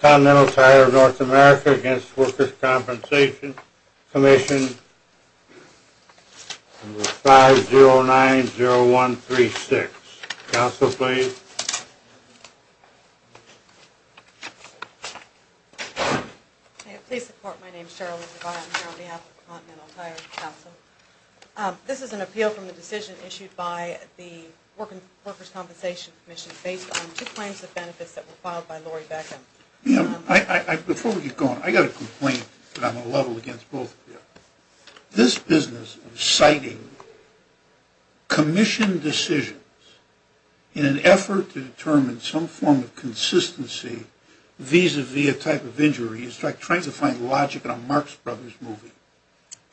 Continental Tire North America v. The Workers' Compensation Commission, 5090136. Council, please. Please support. My name is Cheryl. I'm here on behalf of the Continental Tire Council. This is an appeal from the decision issued by the Workers' Compensation Commission based on two claims of benefits that were filed by Lori Beckham. Before we get going, I've got a complaint that I'm going to level against both of you. This business of citing commission decisions in an effort to determine some form of consistency vis-a-vis a type of injury is like trying to find logic in a Marx Brothers movie.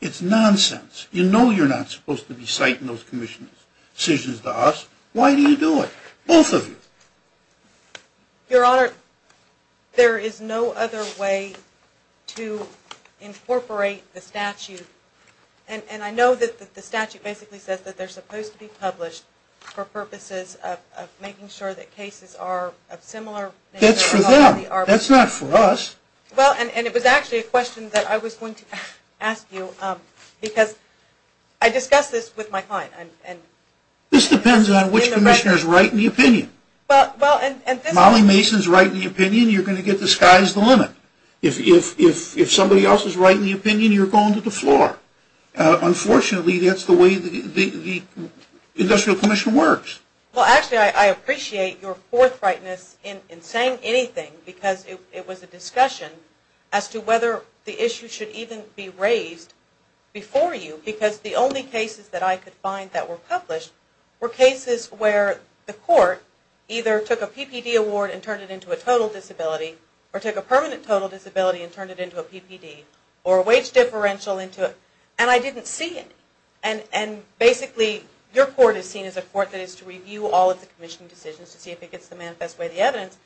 It's nonsense. You know you're not supposed to be citing those commission decisions to us. Why do you do it? Both of you. Your Honor, there is no other way to incorporate the statute. And I know that the statute basically says that they're supposed to be published for purposes of making sure that cases are of similar nature. That's for them. That's not for us. Well, and it was actually a question that I was going to ask you because I discussed this with my client. This depends on which commissioner is right in the opinion. If Molly Mason is right in the opinion, you're going to get the sky's the limit. If somebody else is right in the opinion, you're going to the floor. Unfortunately, that's the way the Industrial Commission works. Well, actually, I appreciate your forthrightness in saying anything because it was a discussion as to whether the issue should even be raised before you because the only cases that I could find that were published were cases where the court either took a PPD award and turned it into a total disability or took a permanent total disability and turned it into a PPD or a wage differential and I didn't see any. And basically, your court is seen as a court that is to review all of the commission decisions to see if it gets the manifest way of the evidence.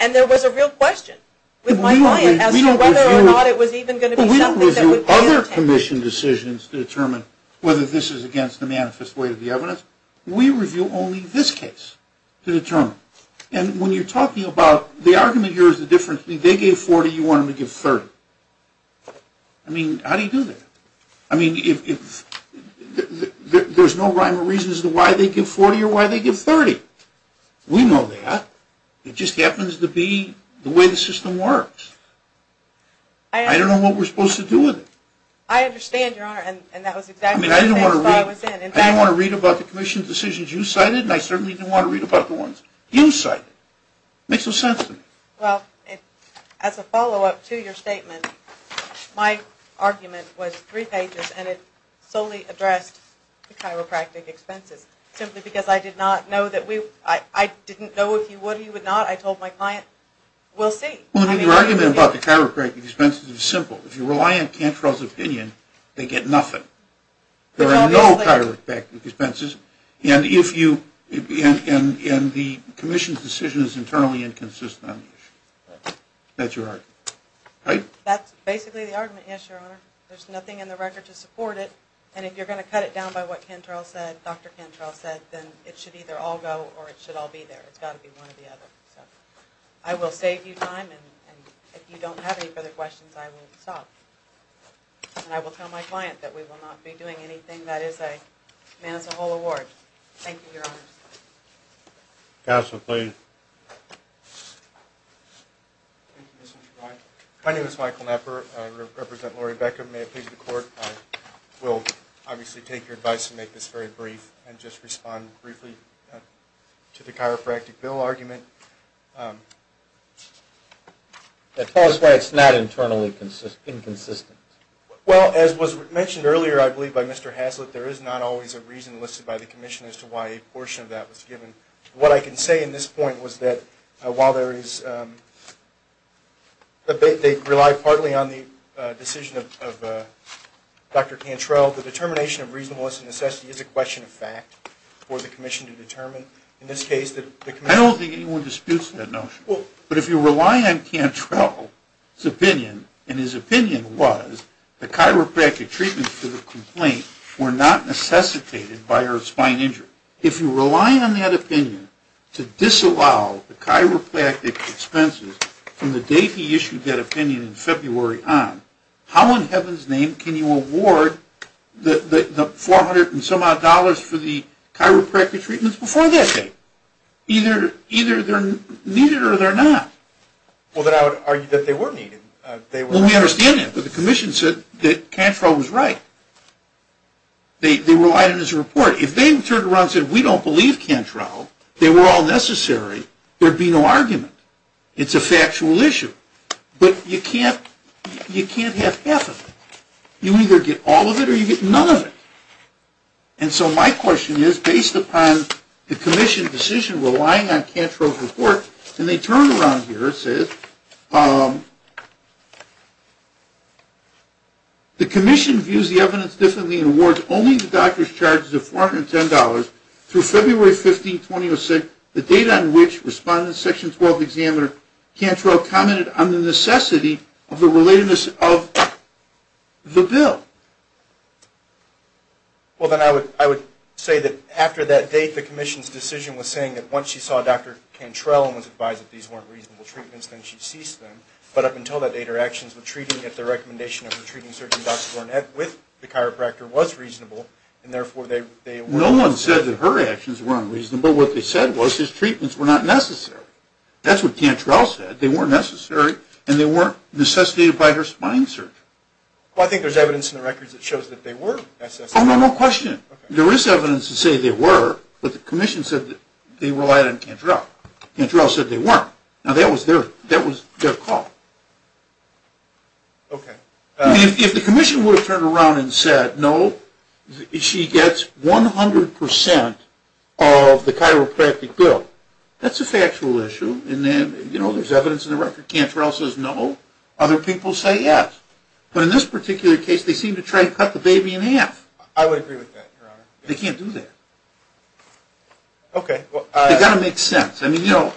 And there was a real question with my client as to whether or not it was even going to be something We don't review other commission decisions to determine whether this is against the manifest way of the evidence. We review only this case to determine. And when you're talking about the argument here is the difference. They gave 40, you want them to give 30. I mean, how do you do that? I mean, there's no rhyme or reason as to why they give 40 or why they give 30. We know that. It just happens to be the way the system works. I don't know what we're supposed to do with it. I understand, Your Honor, and that was exactly the case that I was in. I didn't want to read about the commission decisions you cited and I certainly didn't want to read about the ones you cited. It makes no sense to me. Well, as a follow-up to your statement, my argument was three pages and it solely addressed the chiropractic expenses simply because I did not know that we, I didn't know if you would or you would not. I told my client, we'll see. Your argument about the chiropractic expenses is simple. If you rely on Cantrell's opinion, they get nothing. There are no chiropractic expenses and the commission's decision is internally inconsistent on the issue. That's your argument, right? That's basically the argument, yes, Your Honor. There's nothing in the record to support it and if you're going to cut it down by what Cantrell said, Dr. Cantrell said, then it should either all go or it should all be there. It's got to be one or the other. I will save you time and if you don't have any further questions, I will stop. And I will tell my client that we will not be doing anything that is a man's whole award. Thank you, Your Honor. Counsel, please. My name is Michael Knepper. I represent Lori Becker. May it please the Court, I will obviously take your advice and make this very brief and just respond briefly to the chiropractic bill argument. Tell us why it's not internally inconsistent. Well, as was mentioned earlier, I believe, by Mr. Haslett, there is not always a reason listed by the commission as to why a portion of that was given. What I can say in this point was that while they rely partly on the decision of Dr. Cantrell, the determination of reasonableness and necessity is a question of fact for the commission to determine. In this case, the commission... I don't think anyone disputes that notion. But if you rely on Cantrell's opinion, and his opinion was the chiropractic treatment for the complaint were not necessitated by her spine injury. If you rely on that opinion to disallow the chiropractic expenses from the date he issued that opinion in February on, how in heaven's name can you award the 400 and some odd dollars for the chiropractic treatments before that date? Either they're needed or they're not. Well, then I would argue that they were needed. Well, we understand that. But the commission said that Cantrell was right. They relied on his report. If they turned around and said, we don't believe Cantrell, they were all necessary, there would be no argument. It's a factual issue. But you can't have half of it. You either get all of it or you get none of it. And so my question is, based upon the commission's decision relying on Cantrell's report, and they turned around here and said, the commission views the evidence differently and awards only the doctor's charges of $410 through February 15, 2006, the date on which Respondent Section 12 Examiner Cantrell commented on the necessity of the relatedness of the bill. Well, then I would say that after that date, the commission's decision was saying that once she saw Dr. Cantrell and was advised that these weren't reasonable treatments, then she ceased them. But up until that date, her actions with treating, yet the recommendation of her treating Dr. Dornette with the chiropractor was reasonable, and therefore they weren't. No one said that her actions weren't reasonable. What they said was his treatments were not necessary. That's what Cantrell said. They weren't necessary, and they weren't necessitated by her spine surgery. Well, I think there's evidence in the records that shows that they were necessary. Oh, no, no question. There is evidence to say they were, but the commission said that they relied on Cantrell. Cantrell said they weren't. Now, that was their call. Okay. If the commission would have turned around and said, no, she gets 100% of the chiropractic bill, that's a factual issue, and then, you know, there's evidence in the record. Cantrell says no. Other people say yes. But in this particular case, they seem to try to cut the baby in half. I would agree with that, Your Honor. They can't do that. Okay. They've got to make sense. I mean, you know,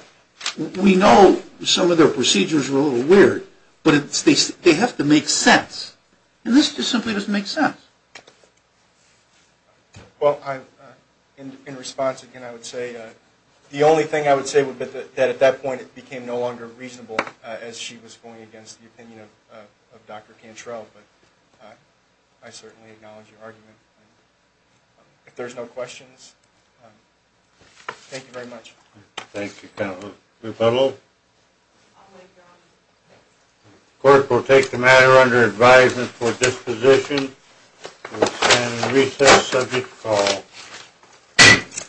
we know some of their procedures were a little weird, but they have to make sense, and this just simply doesn't make sense. Well, in response, again, I would say the only thing I would say would be that at that point it became no longer reasonable, as she was going against the opinion of Dr. Cantrell, but I certainly acknowledge your argument. If there's no questions, thank you very much. Thank you, Counselor Pudlow. The court will take the matter under advisement for disposition and recess subject to call.